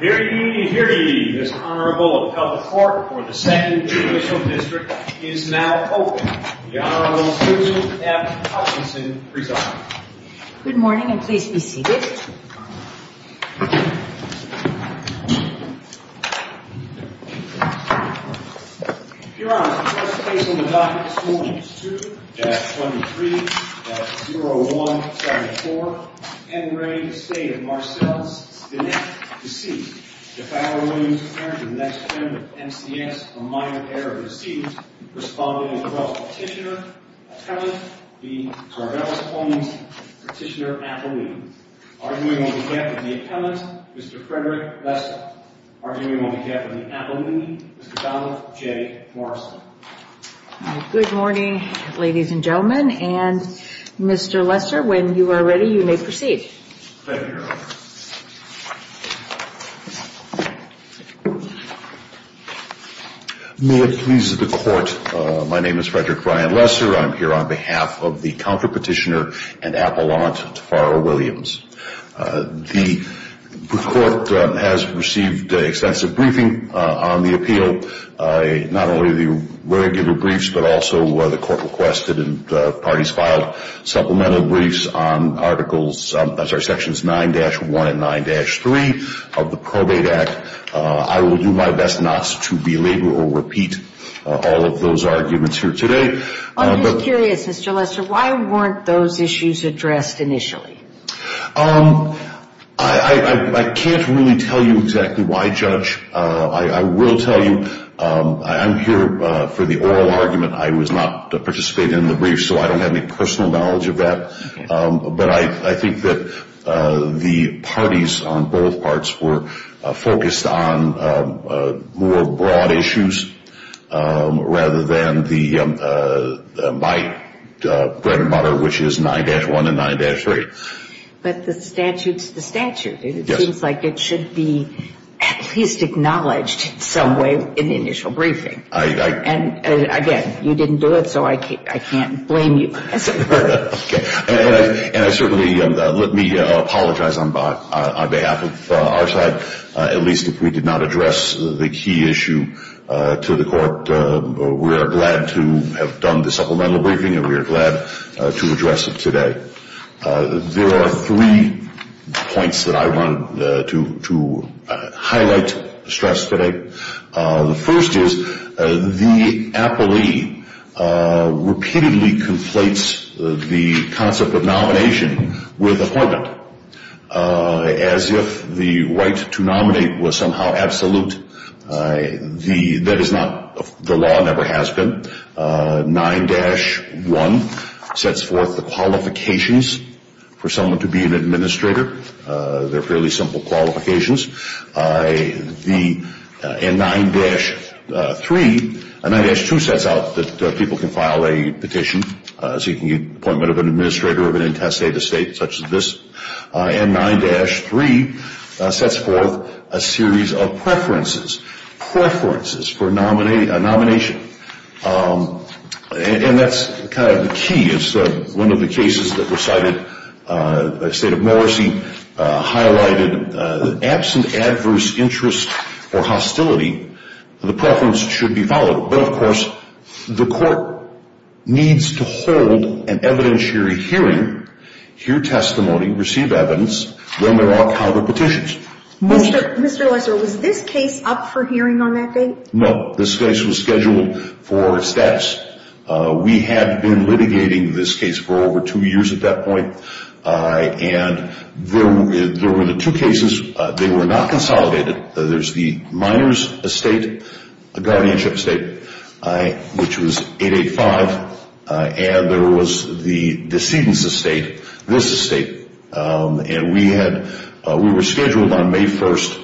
Hear ye, hear ye, this Honorable Appellate Court for the 2nd Judicial District is now open. The Honorable Susan F. Hutchinson presiding. Good morning and please be seated. Your Honor, the first case on the docket this morning is 2-23-0174 N. Ray, the State of Marcells, Stinnette, D.C. The Fowler Williams Parents of the next friend of MCS, a minor pair of D.C. Responding across Petitioner Appellant, the Tarbellas Plains Petitioner Appellant. Arguing on behalf of the Appellant, Mr. Frederick Lester. Arguing on behalf of the Appellant, Mr. Donald J. Morrison. Good morning, ladies and gentlemen. And Mr. Lester, when you are ready, you may proceed. Thank you, Your Honor. May it please the Court, my name is Frederick Ryan Lester. I'm here on behalf of the Counterpetitioner and Appellant, Taffaro Williams. The Court has received extensive briefing on the appeal. Not only the regular briefs, but also the Court requested and parties filed supplemental briefs on articles, I'm sorry, sections 9-1 and 9-3 of the Probate Act. I will do my best not to belabor or repeat all of those arguments here today. I'm just curious, Mr. Lester, why weren't those issues addressed initially? I will tell you, I'm here for the oral argument. I was not participating in the brief, so I don't have any personal knowledge of that. But I think that the parties on both parts were focused on more broad issues, rather than my bread and butter, which is 9-1 and 9-3. But the statute's the statute. It seems like it should be at least acknowledged in some way in the initial briefing. And again, you didn't do it, so I can't blame you. And I certainly let me apologize on behalf of our side. At least if we did not address the key issue to the Court, we are glad to have done the supplemental briefing and we are glad to address it today. There are three points that I wanted to highlight, stress today. The first is the appellee repeatedly conflates the concept of nomination with appointment. As if the right to nominate was somehow absolute, that is not, the law never has been. 9-1 sets forth the qualifications for someone to be an administrator. They're fairly simple qualifications. And 9-2 sets out that people can file a petition seeking appointment of an administrator of an intestate or state such as this. And 9-3 sets forth a series of preferences. Preferences for a nomination. And that's kind of the key. It's one of the cases that was cited by State of Morrissey, highlighted absent adverse interest or hostility, the preference should be followed. But, of course, the Court needs to hold an evidentiary hearing, hear testimony, receive evidence when there are counterpetitions. Mr. Lesser, was this case up for hearing on that date? No, this case was scheduled for steps. We had been litigating this case for over two years at that point. And there were the two cases, they were not consolidated. There's the minor's estate, a guardianship estate, which was 885, and there was the decedent's estate, this estate. And we were scheduled on May 1st,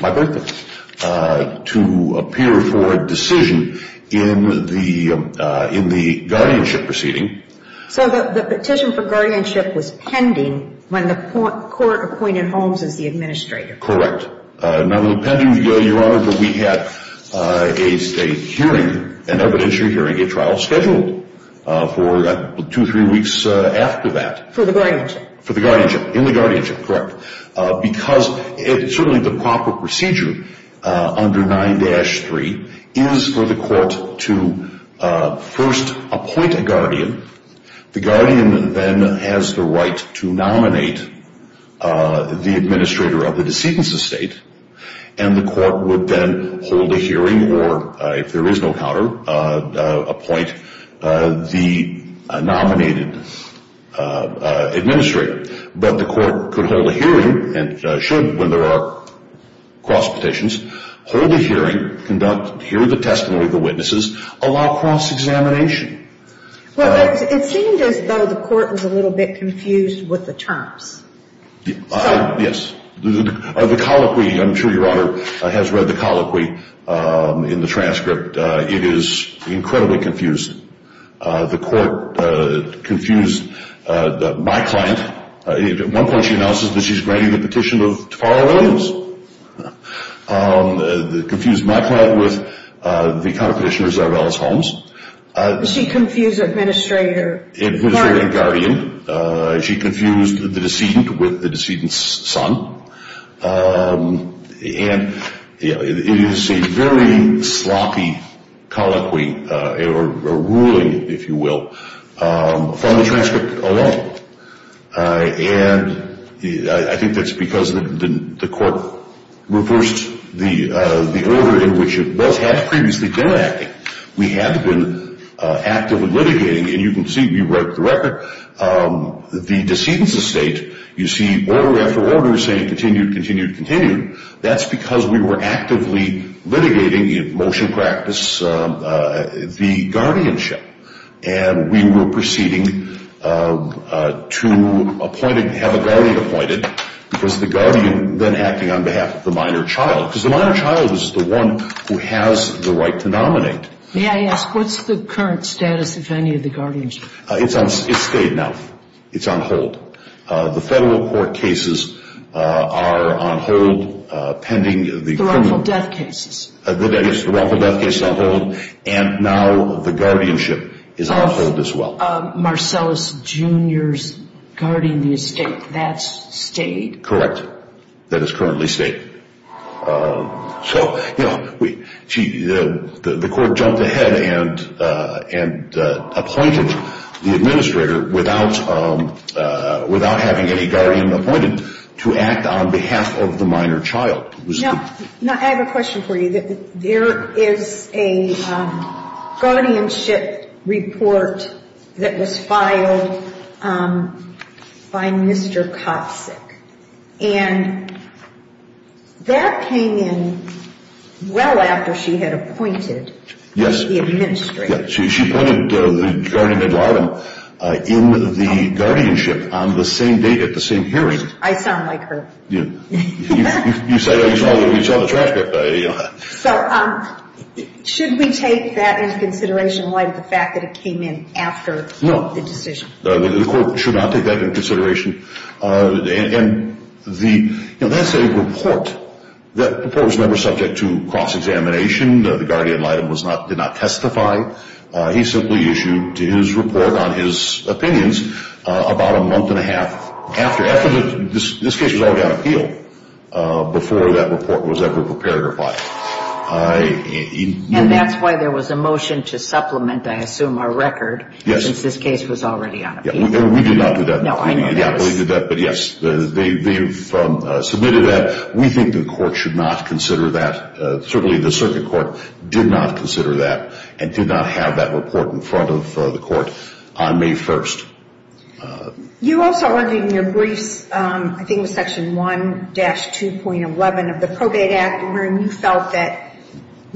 my birthday, to appear for a decision in the guardianship proceeding. So the petition for guardianship was pending when the Court appointed Holmes as the administrator. Correct. Not only pending, Your Honor, but we had a hearing, an evidentiary hearing, a trial scheduled for two, three weeks after that. For the guardianship? For the guardianship, in the guardianship, correct. Because certainly the proper procedure under 9-3 is for the Court to first appoint a guardian. The guardian then has the right to nominate the administrator of the decedent's estate. And the Court would then hold a hearing or, if there is no counter, appoint the nominated administrator. But the Court could hold a hearing and should, when there are cross-petitions, hold a hearing, hear the testimony of the witnesses, allow cross-examination. Well, it seemed as though the Court was a little bit confused with the terms. Yes. The colloquy, I'm sure Your Honor has read the colloquy in the transcript. It is incredibly confused. The Court confused my client. At one point she announces that she's granting the petition of Tomorrow Williams. Confused my client with the counter-petitioners of Ellis Holmes. She confused administrator. Administrator and guardian. She confused the decedent with the decedent's son. And it is a very sloppy colloquy or ruling, if you will, from the transcript alone. And I think that's because the Court reversed the order in which it both had previously been acting. We had been actively litigating, and you can see we broke the record. The decedent's estate, you see order after order saying continued, continued, continued. That's because we were actively litigating in motion practice the guardianship. And we were proceeding to appoint and have a guardian appointed because the guardian then acting on behalf of the minor child. Because the minor child is the one who has the right to nominate. May I ask, what's the current status of any of the guardianship? It's stayed now. It's on hold. The federal court cases are on hold pending the criminal. The raffle death cases. Yes, the raffle death case is on hold, and now the guardianship is on hold as well. Of Marcellus Jr.'s guardian of the estate, that's stayed? Correct. That is currently stayed. So, you know, the Court jumped ahead and appointed the administrator without having any guardian appointed to act on behalf of the minor child. Now, I have a question for you. There is a guardianship report that was filed by Mr. Kopsik, and that came in well after she had appointed the administrator. Yes. She appointed the guardian in the guardianship on the same day at the same hearing. I sound like her. You say you saw the transcript. So, should we take that into consideration? Why did the fact that it came in after the decision? No, the Court should not take that into consideration. And that's a report that was never subject to cross-examination. The guardian did not testify. He simply issued his report on his opinions about a month and a half after. This case was already on appeal before that report was ever prepared or filed. And that's why there was a motion to supplement, I assume, our record since this case was already on appeal. We did not do that. No, I know that. We did not do that. But, yes, they've submitted that. We think the Court should not consider that. Certainly, the circuit court did not consider that and did not have that report in front of the Court on May 1st. You also argued in your briefs, I think it was Section 1-2.11 of the Probate Act, wherein you felt that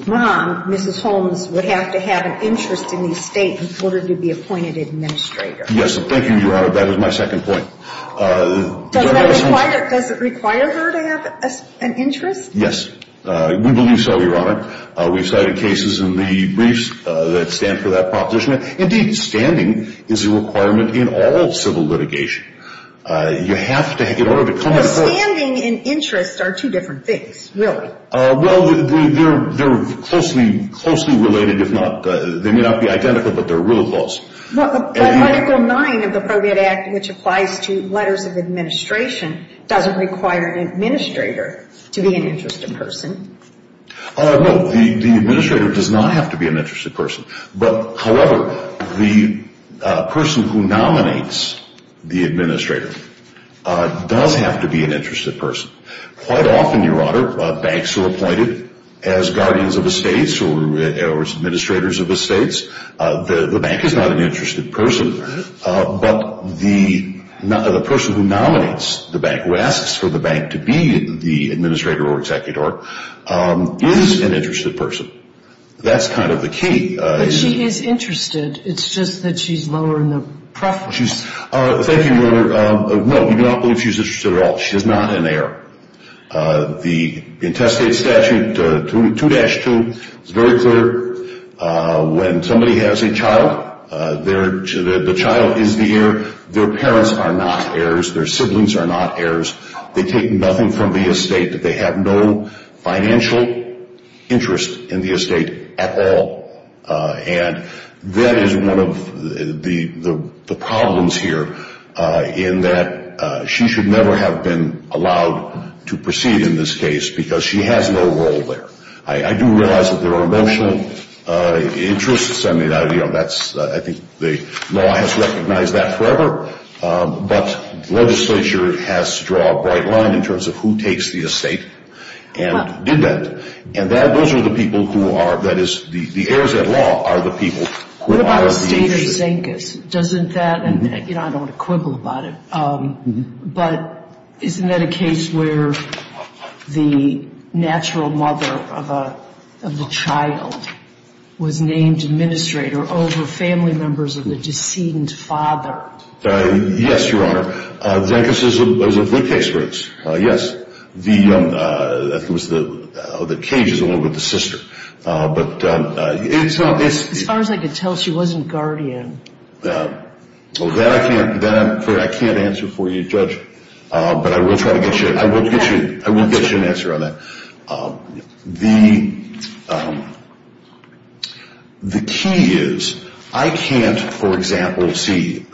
Mom, Mrs. Holmes, would have to have an interest in the estate in order to be appointed administrator. Yes, thank you, Your Honor. That was my second point. Does it require her to have an interest? Yes, we believe so, Your Honor. We've cited cases in the briefs that stand for that proposition. Indeed, standing is a requirement in all civil litigation. You have to, in order to come close. Well, standing and interest are two different things, really. Well, they're closely related. They may not be identical, but they're really close. But Article 9 of the Probate Act, which applies to letters of administration, doesn't require an administrator to be an interested person. No, the administrator does not have to be an interested person. However, the person who nominates the administrator does have to be an interested person. Quite often, Your Honor, banks are appointed as guardians of estates or as administrators of estates. The bank is not an interested person, but the person who nominates the bank, who asks for the bank to be the administrator or executor, is an interested person. That's kind of the key. But she is interested. It's just that she's lower in the preference. Thank you, Your Honor. No, we do not believe she's interested at all. She is not an heir. The intestate statute, 2-2, is very clear. When somebody has a child, the child is the heir. Their parents are not heirs. Their siblings are not heirs. They take nothing from the estate. They have no financial interest in the estate at all. And that is one of the problems here in that she should never have been allowed to proceed in this case because she has no role there. I do realize that there are emotional interests. I think the law has recognized that forever. But legislature has to draw a bright line in terms of who takes the estate and did that. And those are the people who are, that is, the heirs at law are the people. What about the state of Zincus? Doesn't that, and, you know, I don't want to quibble about it, but isn't that a case where the natural mother of the child was named administrator over family members of the deceased father? Yes, Your Honor. Zincus is a good case for this. Yes. The, I think it was the, oh, the cage is the one with the sister. But it's not this. As far as I could tell, she wasn't guardian. Well, that I can't, that I'm, I can't answer for you, Judge. But I will try to get you, I will get you, I will get you an answer on that. The key is I can't, for example, see,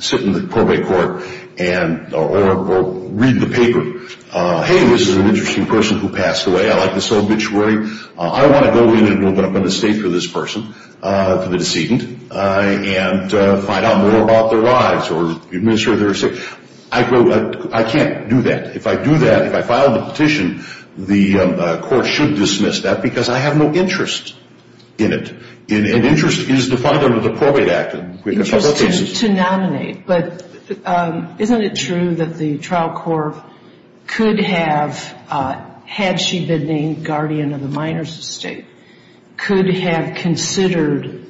sit in the probate court and, or read the paper, hey, this is an interesting person who passed away. I like this obituary. I want to go in and open up an estate for this person, for the decedent, and find out more about their lives or administer their estate. I can't do that. If I do that, if I file the petition, the court should dismiss that because I have no interest in it. And interest is defined under the Probate Act. Interest to nominate. But isn't it true that the trial court could have, had she been named guardian of the minor's estate, could have considered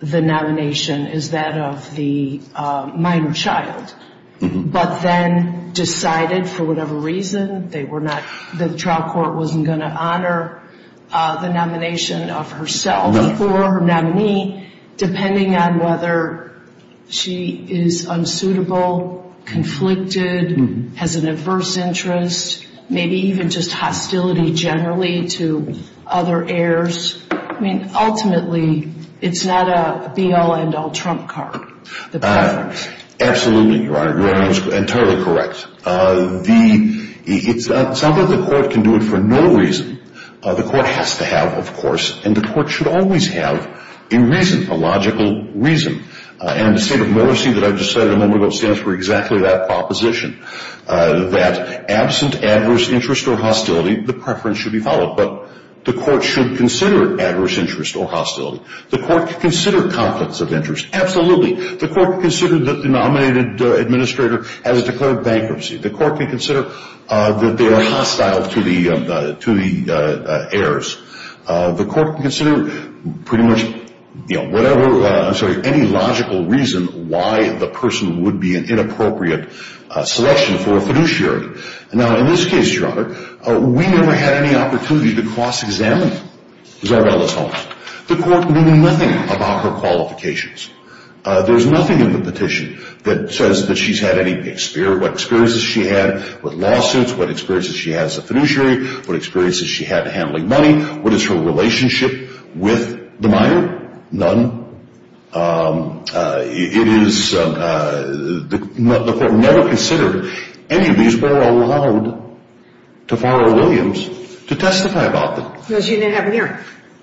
the nomination as that of the minor's child, but then decided for whatever reason they were not, the trial court wasn't going to honor the nomination of herself or her nominee, depending on whether she is unsuitable, conflicted, has an adverse interest, maybe even just hostility generally to other heirs. I mean, ultimately, it's not a be-all, end-all, trump card. Absolutely, Your Honor. Your Honor is entirely correct. It's something the court can do it for no reason. The court has to have, of course, and the court should always have a reason, a logical reason. And the state of mercy that I just cited a moment ago stands for exactly that proposition, that absent adverse interest or hostility, the preference should be followed. But the court should consider adverse interest or hostility. The court can consider conflicts of interest. Absolutely. The court can consider the nominated administrator has declared bankruptcy. The court can consider that they are hostile to the heirs. The court can consider pretty much, you know, whatever, I'm sorry, any logical reason why the person would be an inappropriate selection for a fiduciary. Now, in this case, Your Honor, we never had any opportunity to cross-examine Zarbella's home. The court knew nothing about her qualifications. There's nothing in the petition that says that she's had any experiences she had with lawsuits, what experiences she had as a fiduciary, what experiences she had handling money, what is her relationship with the minor, none. It is the court never considered any of these were allowed to borrow Williams to testify about them. Because you didn't have an hearing.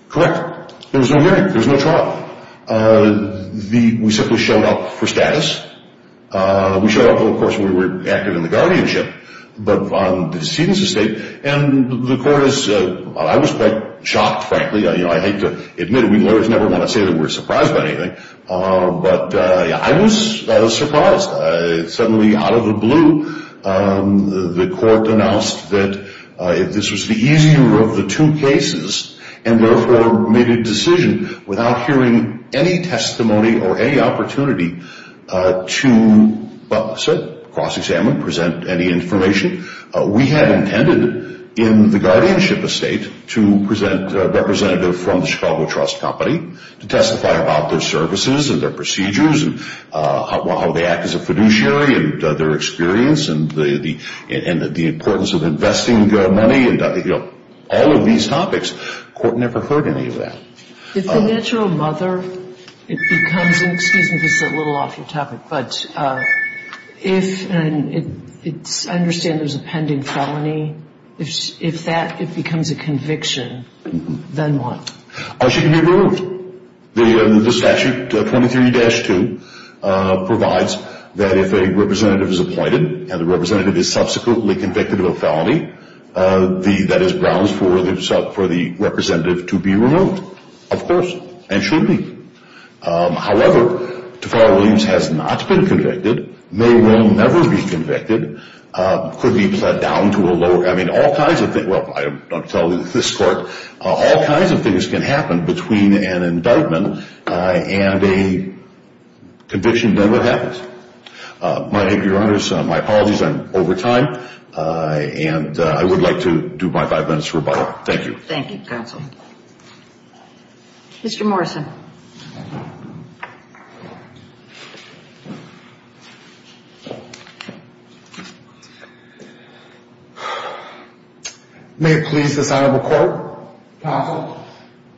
Correct. There was no hearing. There was no trial. We simply showed up for status. We showed up, of course, when we were active in the guardianship, but on the decedent's estate. And the court is, I was quite shocked, frankly. I hate to admit it. We lawyers never want to say that we're surprised by anything. But I was surprised. Suddenly, out of the blue, the court announced that this was the easier of the two cases and therefore made a decision without hearing any testimony or any opportunity to cross-examine, present any information. We had intended in the guardianship estate to present a representative from the Chicago Trust Company to testify about their services and their procedures and how they act as a fiduciary and their experience and the importance of investing money and all of these topics. The court never heard any of that. If the natural mother, it becomes, and excuse me, this is a little off your topic, but if, and I understand there's a pending felony, if that becomes a conviction, then what? She can be removed. The statute 23-2 provides that if a representative is appointed and the representative is subsequently convicted of a felony, that is grounds for the representative to be removed, of course, and should be. However, Tafara Williams has not been convicted, may well never be convicted, could be put down to a lower, I mean, all kinds of things, well, I'm telling you this court, all kinds of things can happen between an indictment and a conviction, then what happens? My apologies, I'm over time, and I would like to do my five minutes rebuttal. Thank you. Thank you, counsel. Mr. Morrison. Thank you. May it please this honorable court, counsel,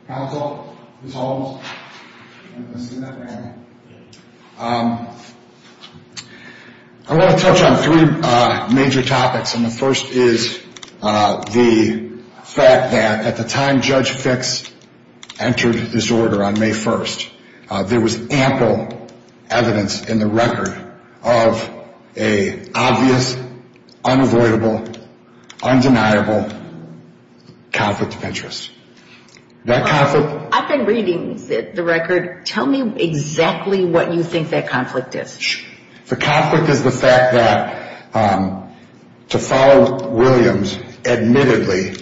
counsel, Ms. Holmes. I want to touch on three major topics, and the first is the fact that at the time Judge Fix entered this order on May 1st, there was ample evidence in the record of an obvious, unavoidable, undeniable conflict of interest. I've been reading the record. Tell me exactly what you think that conflict is. The conflict is the fact that Tafara Williams admittedly,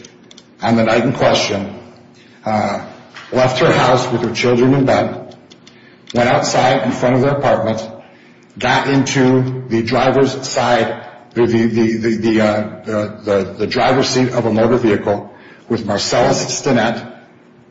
on the night in question, left her house with her children in bed, went outside in front of their apartment, got into the driver's side, the driver's seat of a motor vehicle with Marcellus Stinnett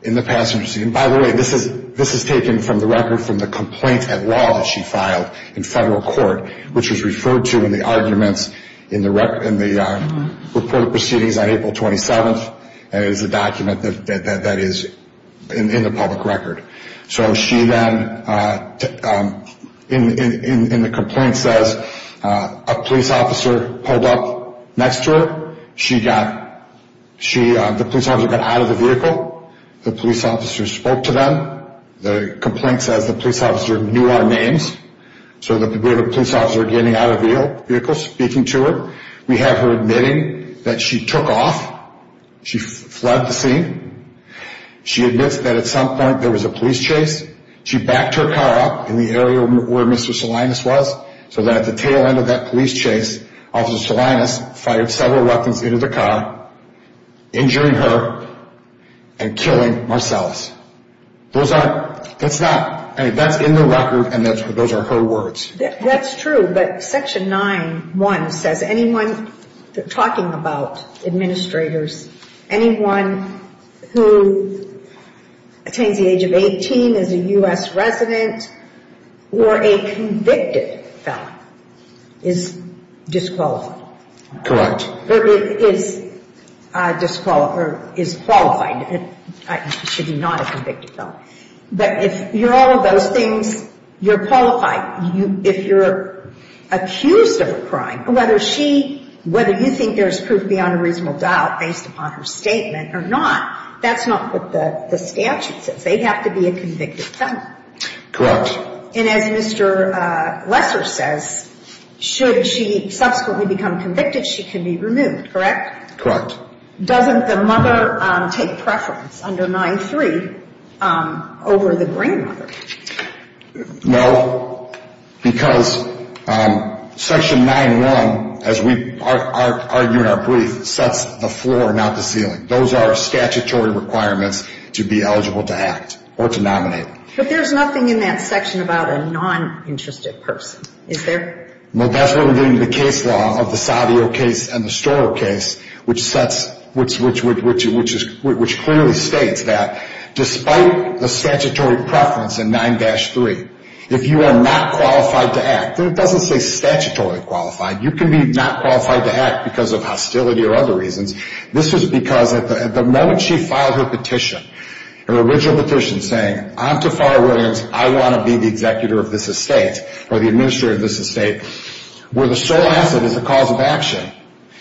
in the passenger seat. And by the way, this is taken from the record from the complaint at law that she filed in federal court, which was referred to in the arguments in the report of proceedings on April 27th, and is a document that is in the public record. So she then, in the complaint, says a police officer pulled up next to her. The police officer got out of the vehicle. The police officer spoke to them. The complaint says the police officer knew our names, so the police officer getting out of the vehicle, speaking to her. We have her admitting that she took off. She fled the scene. She admits that at some point there was a police chase. She backed her car up in the area where Mr. Salinas was, so that at the tail end of that police chase, Officer Salinas fired several weapons into the car, injuring her and killing Marcellus. That's in the record, and those are her words. That's true, but Section 9-1 says anyone talking about administrators, anyone who attains the age of 18, is a U.S. resident, or a convicted felon is disqualified. Correct. Or is disqualified, or is qualified. She's not a convicted felon. But if you're all of those things, you're qualified. If you're accused of a crime, whether she, whether you think there's proof beyond a reasonable doubt based upon her statement or not, that's not what the statute says. They have to be a convicted felon. Correct. And as Mr. Lesser says, should she subsequently become convicted, she can be removed, correct? Correct. Doesn't the mother take preference under 9-3 over the grandmother? No, because Section 9-1, as we argue in our brief, sets the floor, not the ceiling. Those are statutory requirements to be eligible to act or to nominate. But there's nothing in that section about a non-interested person, is there? That's where we get into the case law of the Savio case and the Storrow case, which sets, which clearly states that despite the statutory preference in 9-3, if you are not qualified to act, and it doesn't say statutory qualified, you can be not qualified to act because of hostility or other reasons. This is because at the moment she filed her petition, her original petition saying, I'm Taffar Williams, I want to be the executor of this estate or the administrator of this estate, where the sole asset is the cause of action.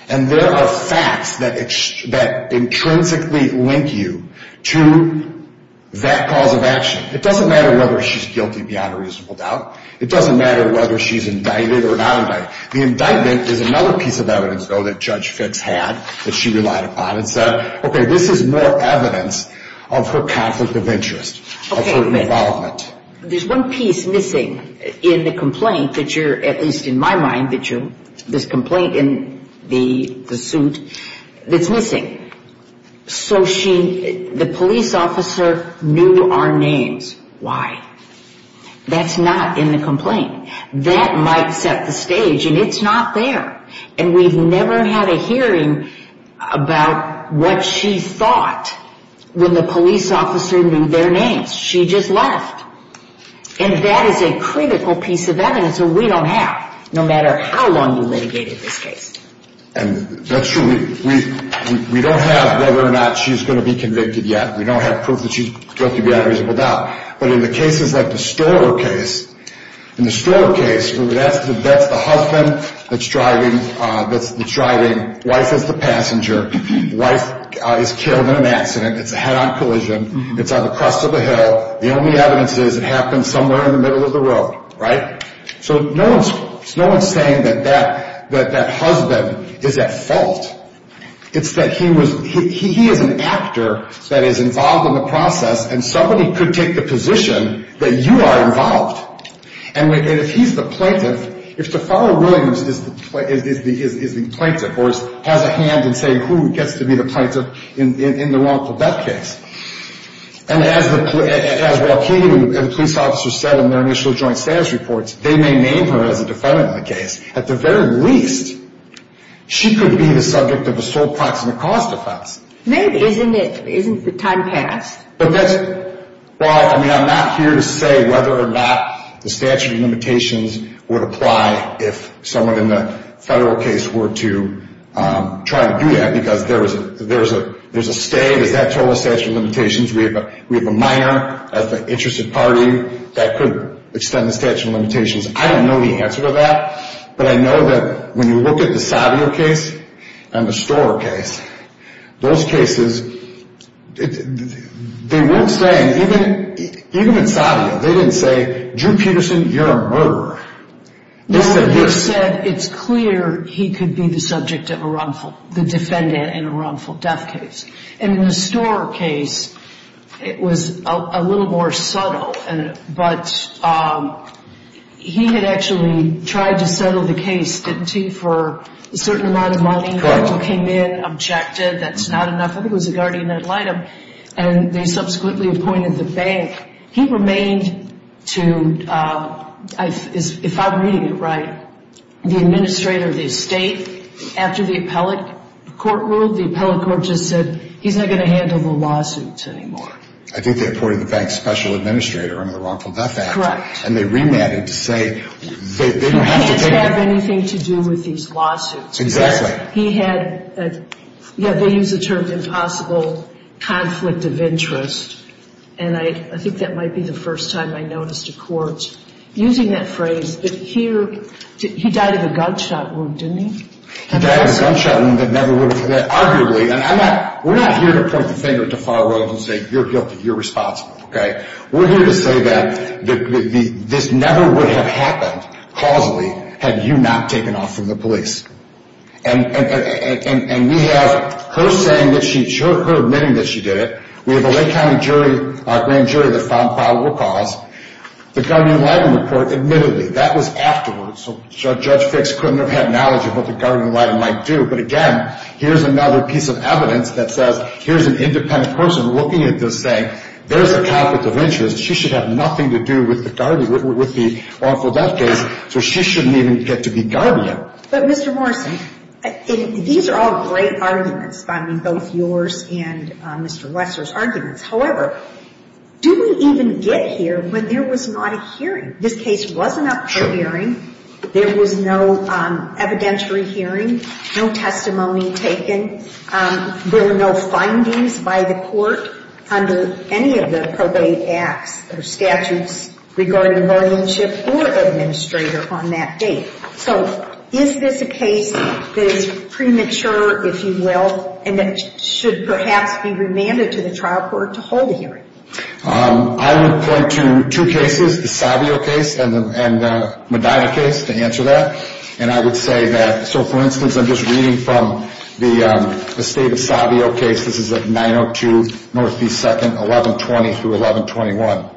And there are facts that intrinsically link you to that cause of action. It doesn't matter whether she's guilty beyond a reasonable doubt. It doesn't matter whether she's indicted or not indicted. The indictment is another piece of evidence, though, that Judge Fitts had that she relied upon and said, okay, this is more evidence of her conflict of interest, of her involvement. There's one piece missing in the complaint that you're, at least in my mind, this complaint in the suit that's missing. So she, the police officer knew our names. Why? That's not in the complaint. That might set the stage, and it's not there. And we've never had a hearing about what she thought when the police officer knew their names. She just left. And that is a critical piece of evidence that we don't have, no matter how long you litigated this case. And that's true. We don't have whether or not she's going to be convicted yet. We don't have proof that she's guilty beyond a reasonable doubt. But in the cases like the Storer case, in the Storer case, that's the husband that's driving, wife is the passenger, wife is killed in an accident, it's a head-on collision, it's on the crest of a hill, the only evidence is it happened somewhere in the middle of the road, right? So no one's saying that that husband is at fault. It's that he was, he is an actor that is involved in the process, and somebody could take the position that you are involved. And if he's the plaintiff, if Taffaro Williams is the plaintiff, or has a hand in saying who gets to be the plaintiff in the wrongful death case. And as Joaquin and the police officer said in their initial joint status reports, they may name her as a defendant in the case. At the very least, she could be the subject of a sole proximate cause defense. Maybe, isn't it? Isn't the time passed? Well, I mean, I'm not here to say whether or not the statute of limitations would apply if someone in the federal case were to try to do that. Because there's a state, is that total statute of limitations? We have a minor of the interested party that could extend the statute of limitations. I don't know the answer to that. But I know that when you look at the Savio case and the Storer case, those cases, they weren't saying, even in Savio, they didn't say, Drew Peterson, you're a murderer. They said this. They said it's clear he could be the subject of a wrongful, the defendant in a wrongful death case. And in the Storer case, it was a little more subtle. But he had actually tried to settle the case, didn't he, for a certain amount of money. Correct. He came in, objected, that's not enough. I think it was the guardian that lied to him. And they subsequently appointed the bank. He remained to, if I'm reading it right, the administrator of the estate. After the appellate court ruled, the appellate court just said, he's not going to handle the lawsuit anymore. I think they appointed the bank's special administrator under the Wrongful Death Act. Correct. And they remanded to say they don't have to take it. He didn't have anything to do with these lawsuits. Exactly. He had, yeah, they use the term impossible conflict of interest. And I think that might be the first time I noticed a court using that phrase. But here, he died of a gunshot wound, didn't he? He died of a gunshot wound that never would have, arguably. And I'm not, we're not here to point the finger at the far world and say you're guilty, you're responsible, okay. We're here to say that this never would have happened, causally, had you not taken off from the police. And we have her saying that she, her admitting that she did it. We have a Lake County jury, a grand jury that found probable cause. The Guardian-Lytton report, admittedly, that was afterwards. So Judge Fix couldn't have had knowledge of what the Guardian-Lytton might do. But again, here's another piece of evidence that says, here's an independent person looking at this saying, there's a conflict of interest. She should have nothing to do with the awful death case, so she shouldn't even get to be guardian. But Mr. Morrison, these are all great arguments, both yours and Mr. Wessler's arguments. However, do we even get here when there was not a hearing? This case wasn't up for hearing. There was no evidentiary hearing, no testimony taken. There were no findings by the court under any of the probate acts or statutes regarding guardianship or administrator on that date. So is this a case that is premature, if you will, and that should perhaps be remanded to the trial court to hold a hearing? I would point to two cases, the Savio case and the Medina case, to answer that. And I would say that, so for instance, I'm just reading from the state of Savio case. This is at 902 Northeast 2nd, 1120 through 1121.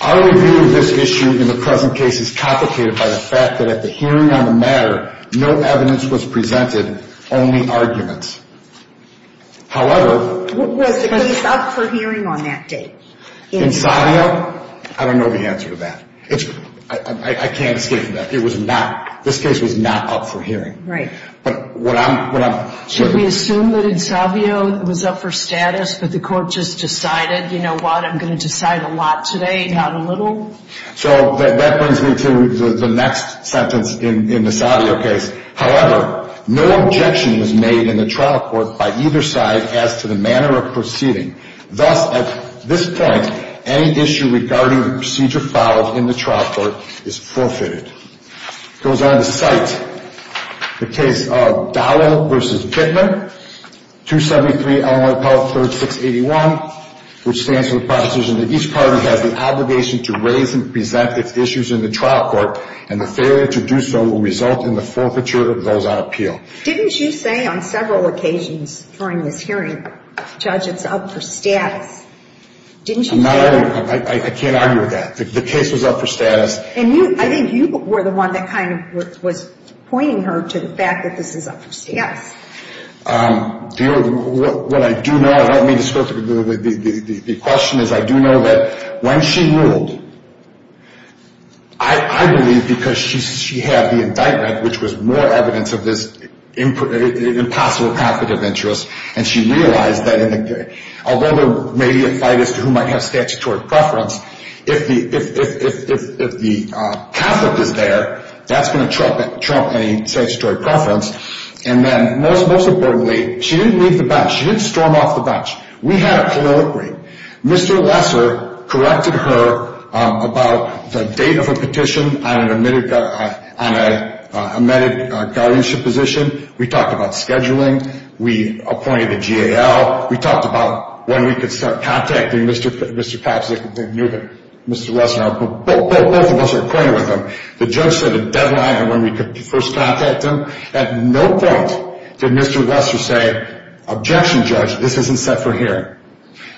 Our review of this issue in the present case is complicated by the fact that at the hearing on the matter, no evidence was presented, only arguments. However, what was the case up for hearing on that date? In Savio, I don't know the answer to that. I can't escape that. It was not, this case was not up for hearing. Right. Should we assume that in Savio it was up for status, that the court just decided, you know what, I'm going to decide a lot today, not a little? So that brings me to the next sentence in the Savio case. However, no objection was made in the trial court by either side as to the manner of proceeding. Thus, at this point, any issue regarding the procedure followed in the trial court is forfeited. It goes on to cite the case of Dowell v. Kittner, 273 Illinois Appellate 3rd, 681, which stands for the proposition that each party has the obligation to raise and present its issues in the trial court, and the failure to do so will result in the forfeiture of those on appeal. Didn't you say on several occasions during this hearing, Judge, it's up for status? Didn't you say that? I'm not arguing. I can't argue with that. The case was up for status. And you, I think you were the one that kind of was pointing her to the fact that this is up for status. Yes. What I do know, the question is, I do know that when she ruled, I believe because she had the indictment, which was more evidence of this impossible competitive interest, and she realized that although there may be a fight as to who might have statutory preference, if the Catholic is there, that's going to trump any statutory preference. And then most importantly, she didn't leave the bench. She didn't storm off the bench. We had a colloquy. Mr. Lesser corrected her about the date of a petition on an amended guardianship position. We talked about scheduling. We appointed the GAL. We talked about when we could start contacting Mr. Papps. They knew that Mr. Lesser, both of us were acquainted with him. The judge set a deadline on when we could first contact him. At no point did Mr. Lesser say, objection, Judge, this isn't set for hearing.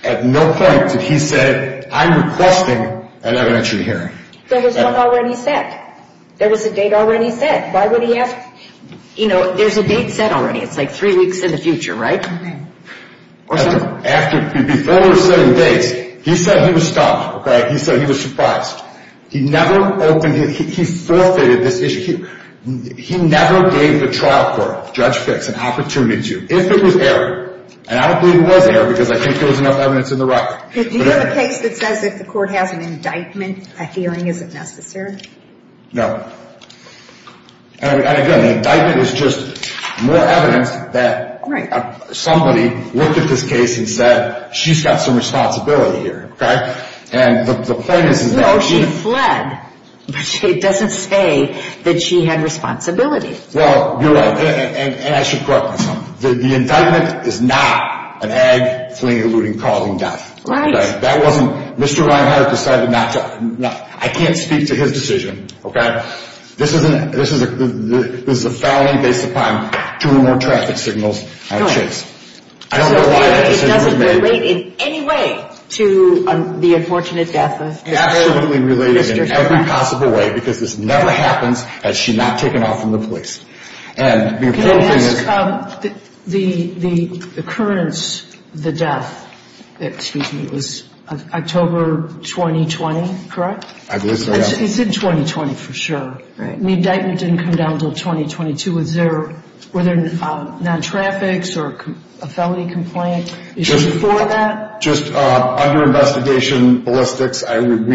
At no point did he say, I'm requesting an evidentiary hearing. There was one already set. There was a date already set. Why would he have, you know, there's a date set already. It's like three weeks in the future, right? Before we were setting dates, he said he was stumped, okay? He said he was surprised. He never opened, he forfeited this issue. He never gave the trial court, Judge Fix, an opportunity to. If it was error, and I don't believe it was error because I think there was enough evidence in the record. Do you have a case that says if the court has an indictment, a hearing isn't necessary? No. And again, the indictment is just more evidence that somebody looked at this case and said, she's got some responsibility here, okay? And the point is. No, she fled, but it doesn't say that she had responsibility. Well, you're right. And I should correct myself. The indictment is not an ag fleeing, eluding, calling death. Right. That wasn't, Mr. Reinhardt decided not to, I can't speak to his decision, okay? But this is a felony based upon two or more traffic signals. Good. I don't know why that decision was made. It doesn't relate in any way to the unfortunate death of Mr. Reinhardt. It absolutely related in every possible way because this never happens had she not taken off from the police. And the important thing is. Can I ask, the occurrence, the death, excuse me, was October 2020, correct? I believe so, yes. He said 2020 for sure. Right. The indictment didn't come down until 2022. Was there, were there non-traffics or a felony complaint before that? Just under investigation, ballistics, we have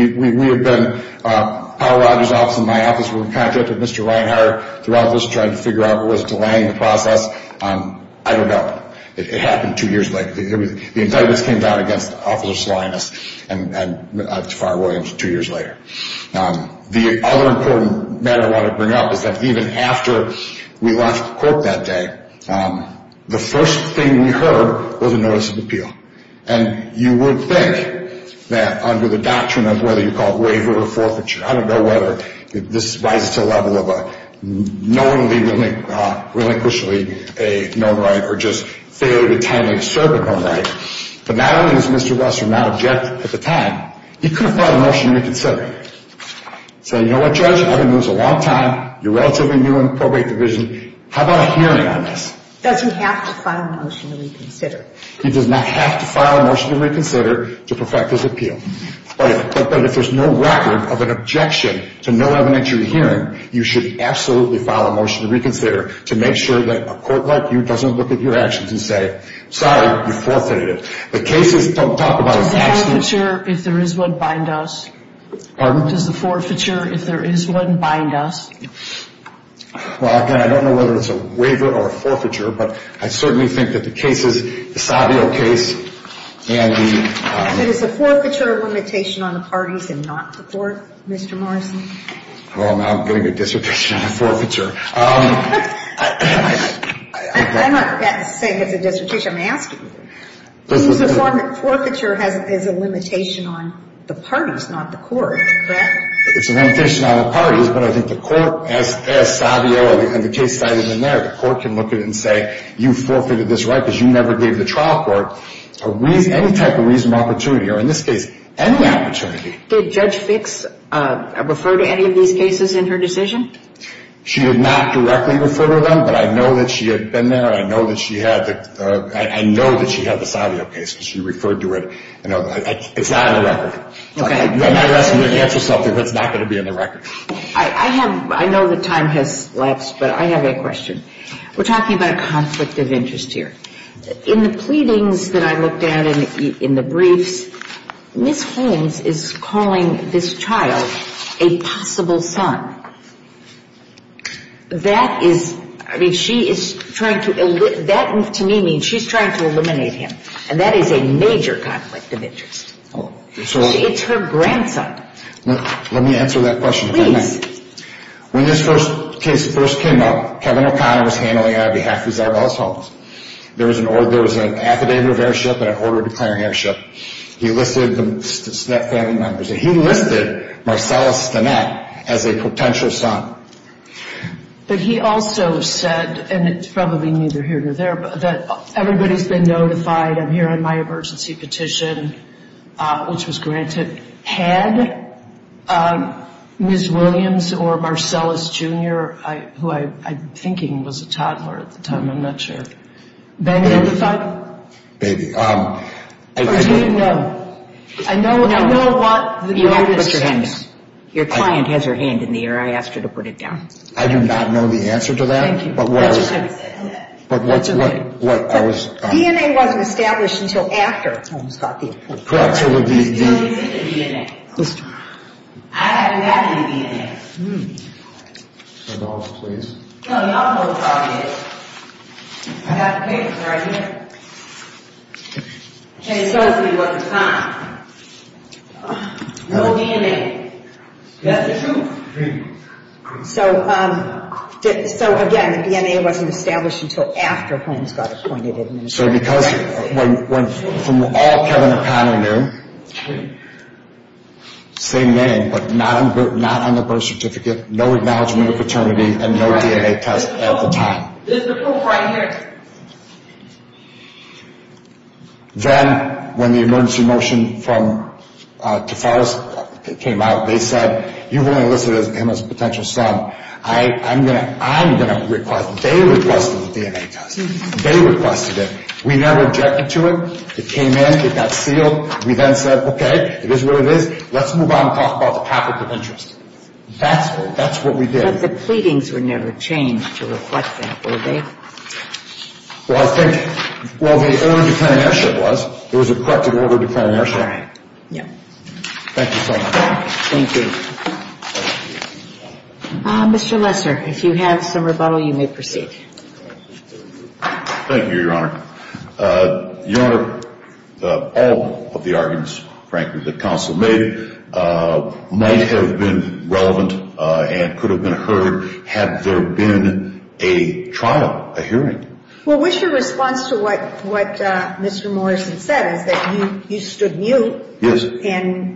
been, Paul Rogers' office and my office were in contact with Mr. Reinhardt throughout this trying to figure out what was delaying the process. I don't know. It happened two years later. The indictments came down against Officer Salinas and Tafari Williams two years later. The other important matter I want to bring up is that even after we left court that day, the first thing we heard was a notice of appeal. And you would think that under the doctrine of whether you call it waiver or forfeiture, I don't know whether this rises to the level of a knowingly, relinquishingly a known right or just failure to timely observe a known right. But not only does Mr. Russell not object at the time, he could have filed a motion to reconsider. Say, you know what, Judge, I've been doing this a long time. You're relatively new in the probate division. How about a hearing on this? Does he have to file a motion to reconsider? He does not have to file a motion to reconsider to perfect his appeal. But if there's no record of an objection to no evidence you're hearing, you should absolutely file a motion to reconsider to make sure that a court like you doesn't look at your actions and say, sorry, you forfeited it. The cases don't talk about an accident. Does the forfeiture, if there is one, bind us? Pardon? Does the forfeiture, if there is one, bind us? Well, again, I don't know whether it's a waiver or a forfeiture, but I certainly think that the cases, the Savio case and the — But is a forfeiture a limitation on the parties and not the court, Mr. Morrison? Well, now I'm getting a dissertation on a forfeiture. I'm not saying it's a dissertation. I'm asking. It's a form of forfeiture as a limitation on the parties, not the court. Correct? It's a limitation on the parties, but I think the court, as Savio and the case cited in there, the court can look at it and say, you forfeited this right because you never gave the trial court any type of reasonable opportunity, or in this case, any opportunity. Did Judge Fix refer to any of these cases in her decision? She did not directly refer to them, but I know that she had been there. I know that she had the Savio case because she referred to it. It's not on the record. Okay. You're not asking me to answer something that's not going to be on the record. I have — I know that time has lapsed, but I have a question. We're talking about a conflict of interest here. In the pleadings that I looked at and in the briefs, Ms. Holmes is calling this child a possible son. That is — I mean, she is trying to — that, to me, means she's trying to eliminate him, and that is a major conflict of interest. It's her grandson. Let me answer that question. Please. When this first case first came up, Kevin O'Connor was handling it on behalf of his other household. There was an affidavit of heirship and an order declaring heirship. He listed the Stennett family members. He listed Marcellus Stennett as a potential son. But he also said, and it's probably neither here nor there, but that everybody's been notified. I'm hearing my emergency petition, which was granted. Had Ms. Williams or Marcellus Jr., who I'm thinking was a toddler at the time, I'm not sure, been notified? Maybe. Or do you know? I know what the notice says. Put your hand down. Your client has her hand in the air. I asked her to put it down. I do not know the answer to that. Thank you. That's okay. But what I was — DNA wasn't established until after Holmes got the approval. He still needs to get the DNA. I haven't gotten the DNA. $10, please. I don't know what the problem is. I have the papers right here. And it tells me what the time. No DNA. Is that the truth? So, again, the DNA wasn't established until after Holmes got appointed administrator. So because — from all Kevin O'Connor knew, same name, but not on the birth certificate, no acknowledgement of paternity, and no DNA test at the time. This is the proof right here. Then, when the emergency motion from Tafaris came out, they said, you've only listed him as a potential son. I'm going to — I'm going to request — they requested the DNA test. They requested it. We never objected to it. It came in. It got sealed. We then said, okay, it is what it is. Let's move on and talk about the topic of interest. That's what we did. But the pleadings were never changed to reflect that, were they? Well, I think — well, the order to plan an airship was. There was a corrected order to plan an airship. Right. Yeah. Thank you so much. Thank you. Mr. Lesser, if you have some rebuttal, you may proceed. Thank you, Your Honor. Your Honor, all of the arguments, frankly, that counsel made might have been relevant and could have been heard had there been a trial, a hearing. Well, what's your response to what Mr. Morrison said, is that you stood mute and — Well,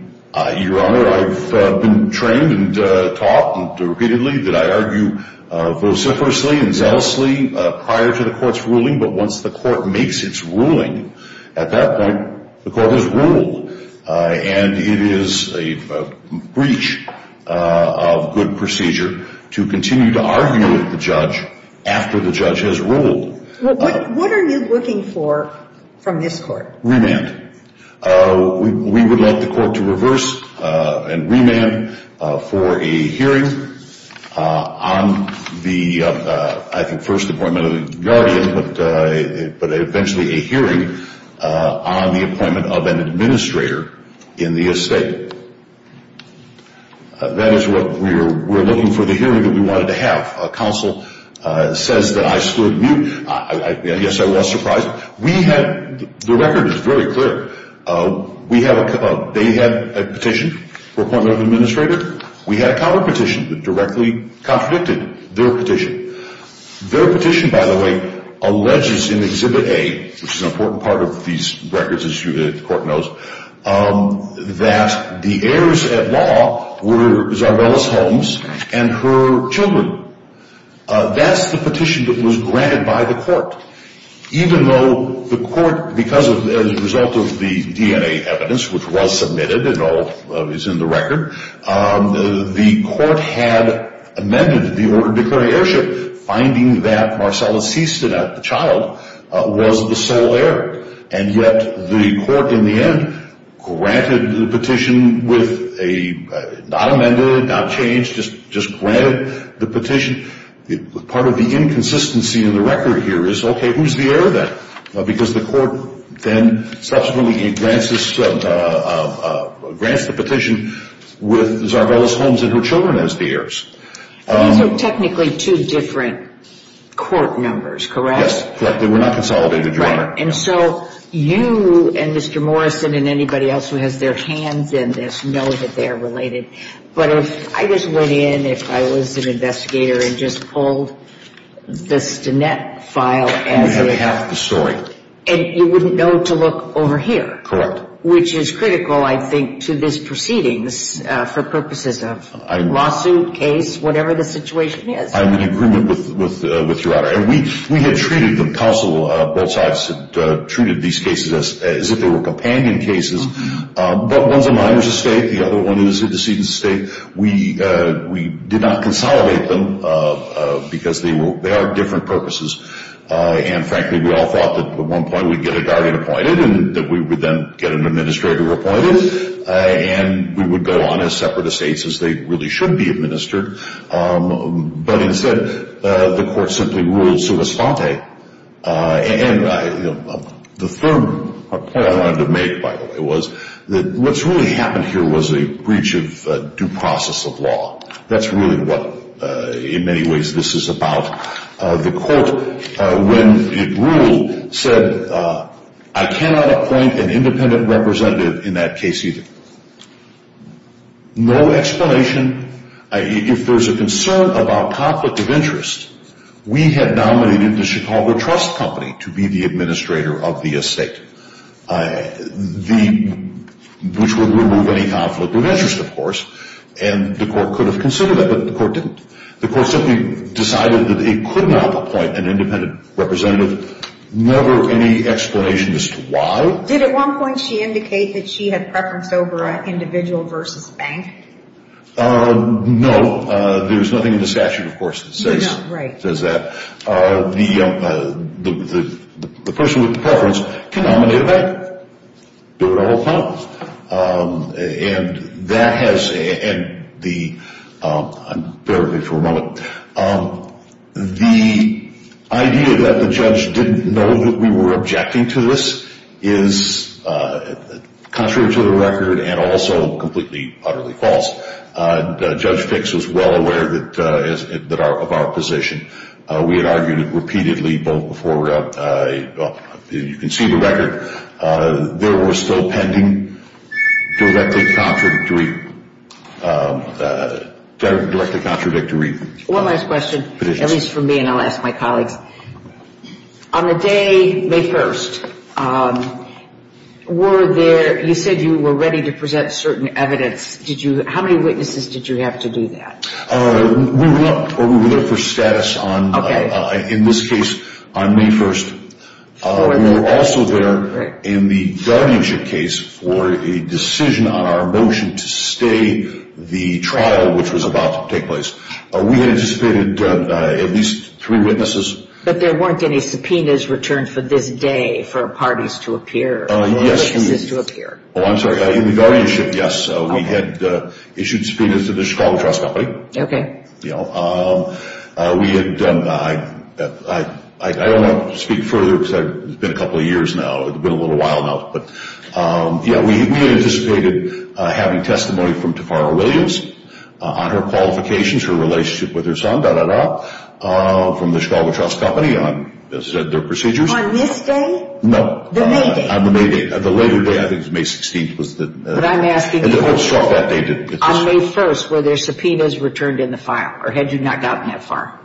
what are you looking for from this court? Remand. We would like the court to reverse and remand for a hearing on the, I think, first appointment of the guardian, but eventually a hearing on the appointment of an administrator in the estate. That is what we're looking for, the hearing that we wanted to have. Counsel says that I stood mute. Yes, I was surprised. The record is very clear. They had a petition for appointment of an administrator. We had a counterpetition that directly contradicted their petition. Their petition, by the way, alleges in Exhibit A, which is an important part of these records, as the court knows, that the heirs-at-law were Zarbella's homes and her children. That's the petition that was granted by the court. Even though the court, because as a result of the DNA evidence, which was submitted and all is in the record, the court had amended the order declaring heirship, finding that Marcella Seastead, the child, was the sole heir. And yet the court, in the end, granted the petition with a — not amended, not changed, just granted the petition. Part of the inconsistency in the record here is, okay, who's the heir then? Because the court then subsequently grants the petition with Zarbella's homes and her children as the heirs. These are technically two different court numbers, correct? Yes, correct. They were not consolidated, Your Honor. Right. And so you and Mr. Morrison and anybody else who has their hands in this know that they are related. But if I just went in, if I was an investigator and just pulled the STINET file as a — You have half the story. And you wouldn't know to look over here. Correct. Which is critical, I think, to this proceedings for purposes of lawsuit, case, whatever the situation is. I'm in agreement with Your Honor. And we had treated them — counsel both sides had treated these cases as if they were companion cases. But one's a minor's estate, the other one is a decedent's estate. We did not consolidate them because they are different purposes. And frankly, we all thought that at one point we'd get a guardian appointed and that we would then get an administrator appointed. And we would go on as separate estates as they really should be administered. But instead, the court simply ruled sua sponte. And the third point I wanted to make, by the way, was that what's really happened here was a breach of due process of law. That's really what, in many ways, this is about. The court, when it ruled, said, I cannot appoint an independent representative in that case either. No explanation. If there's a concern about conflict of interest, we had nominated the Chicago Trust Company to be the administrator of the estate, which would remove any conflict of interest, of course. And the court could have considered that, but the court didn't. The court simply decided that it could not appoint an independent representative. Never any explanation as to why. Did at one point she indicate that she had preference over an individual versus a bank? No. There's nothing in the statute, of course, that says that. The person with the preference can nominate a bank. Do it all up front. And that has, and the, I'll bear with you for a moment. The idea that the judge didn't know that we were objecting to this is contrary to the record and also completely, utterly false. Judge Fix was well aware of our position. We had argued it repeatedly both before, you can see the record. There were still pending directly contradictory positions. One last question, at least for me, and I'll ask my colleagues. On the day, May 1st, were there, you said you were ready to present certain evidence. How many witnesses did you have to do that? We looked for status on, in this case, on May 1st. We were also there in the guardianship case for a decision on our motion to stay the trial which was about to take place. We had anticipated at least three witnesses. But there weren't any subpoenas returned for this day for parties to appear, witnesses to appear. Oh, I'm sorry. In the guardianship, yes. We had issued subpoenas to the Chicago Trust Company. Okay. You know, we had done, I don't want to speak further because it's been a couple of years now. It's been a little while now. But, yeah, we anticipated having testimony from Tafara Williams on her qualifications, her relationship with her son, da, da, da, from the Chicago Trust Company on their procedures. On this day? No. The May day. On the May day. The later day, I think it was May 16th, was the. But I'm asking you. On May 1st, were there subpoenas returned in the file? Or had you not gotten that far?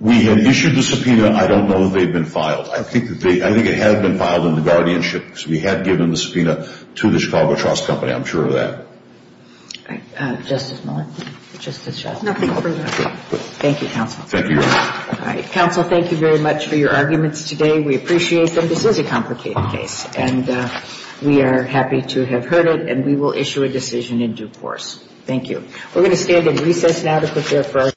We had issued the subpoena. I don't know that they've been filed. I think it had been filed in the guardianship. We had given the subpoena to the Chicago Trust Company. I'm sure of that. All right. Justice Miller? Justice Chauvin? Nothing further. Thank you, counsel. Thank you, Your Honor. All right. Counsel, thank you very much for your arguments today. We appreciate them. This is a complicated case. And we are happy to have heard it. And we will issue a decision in due course. Thank you. We're going to stand in recess now to prepare for our.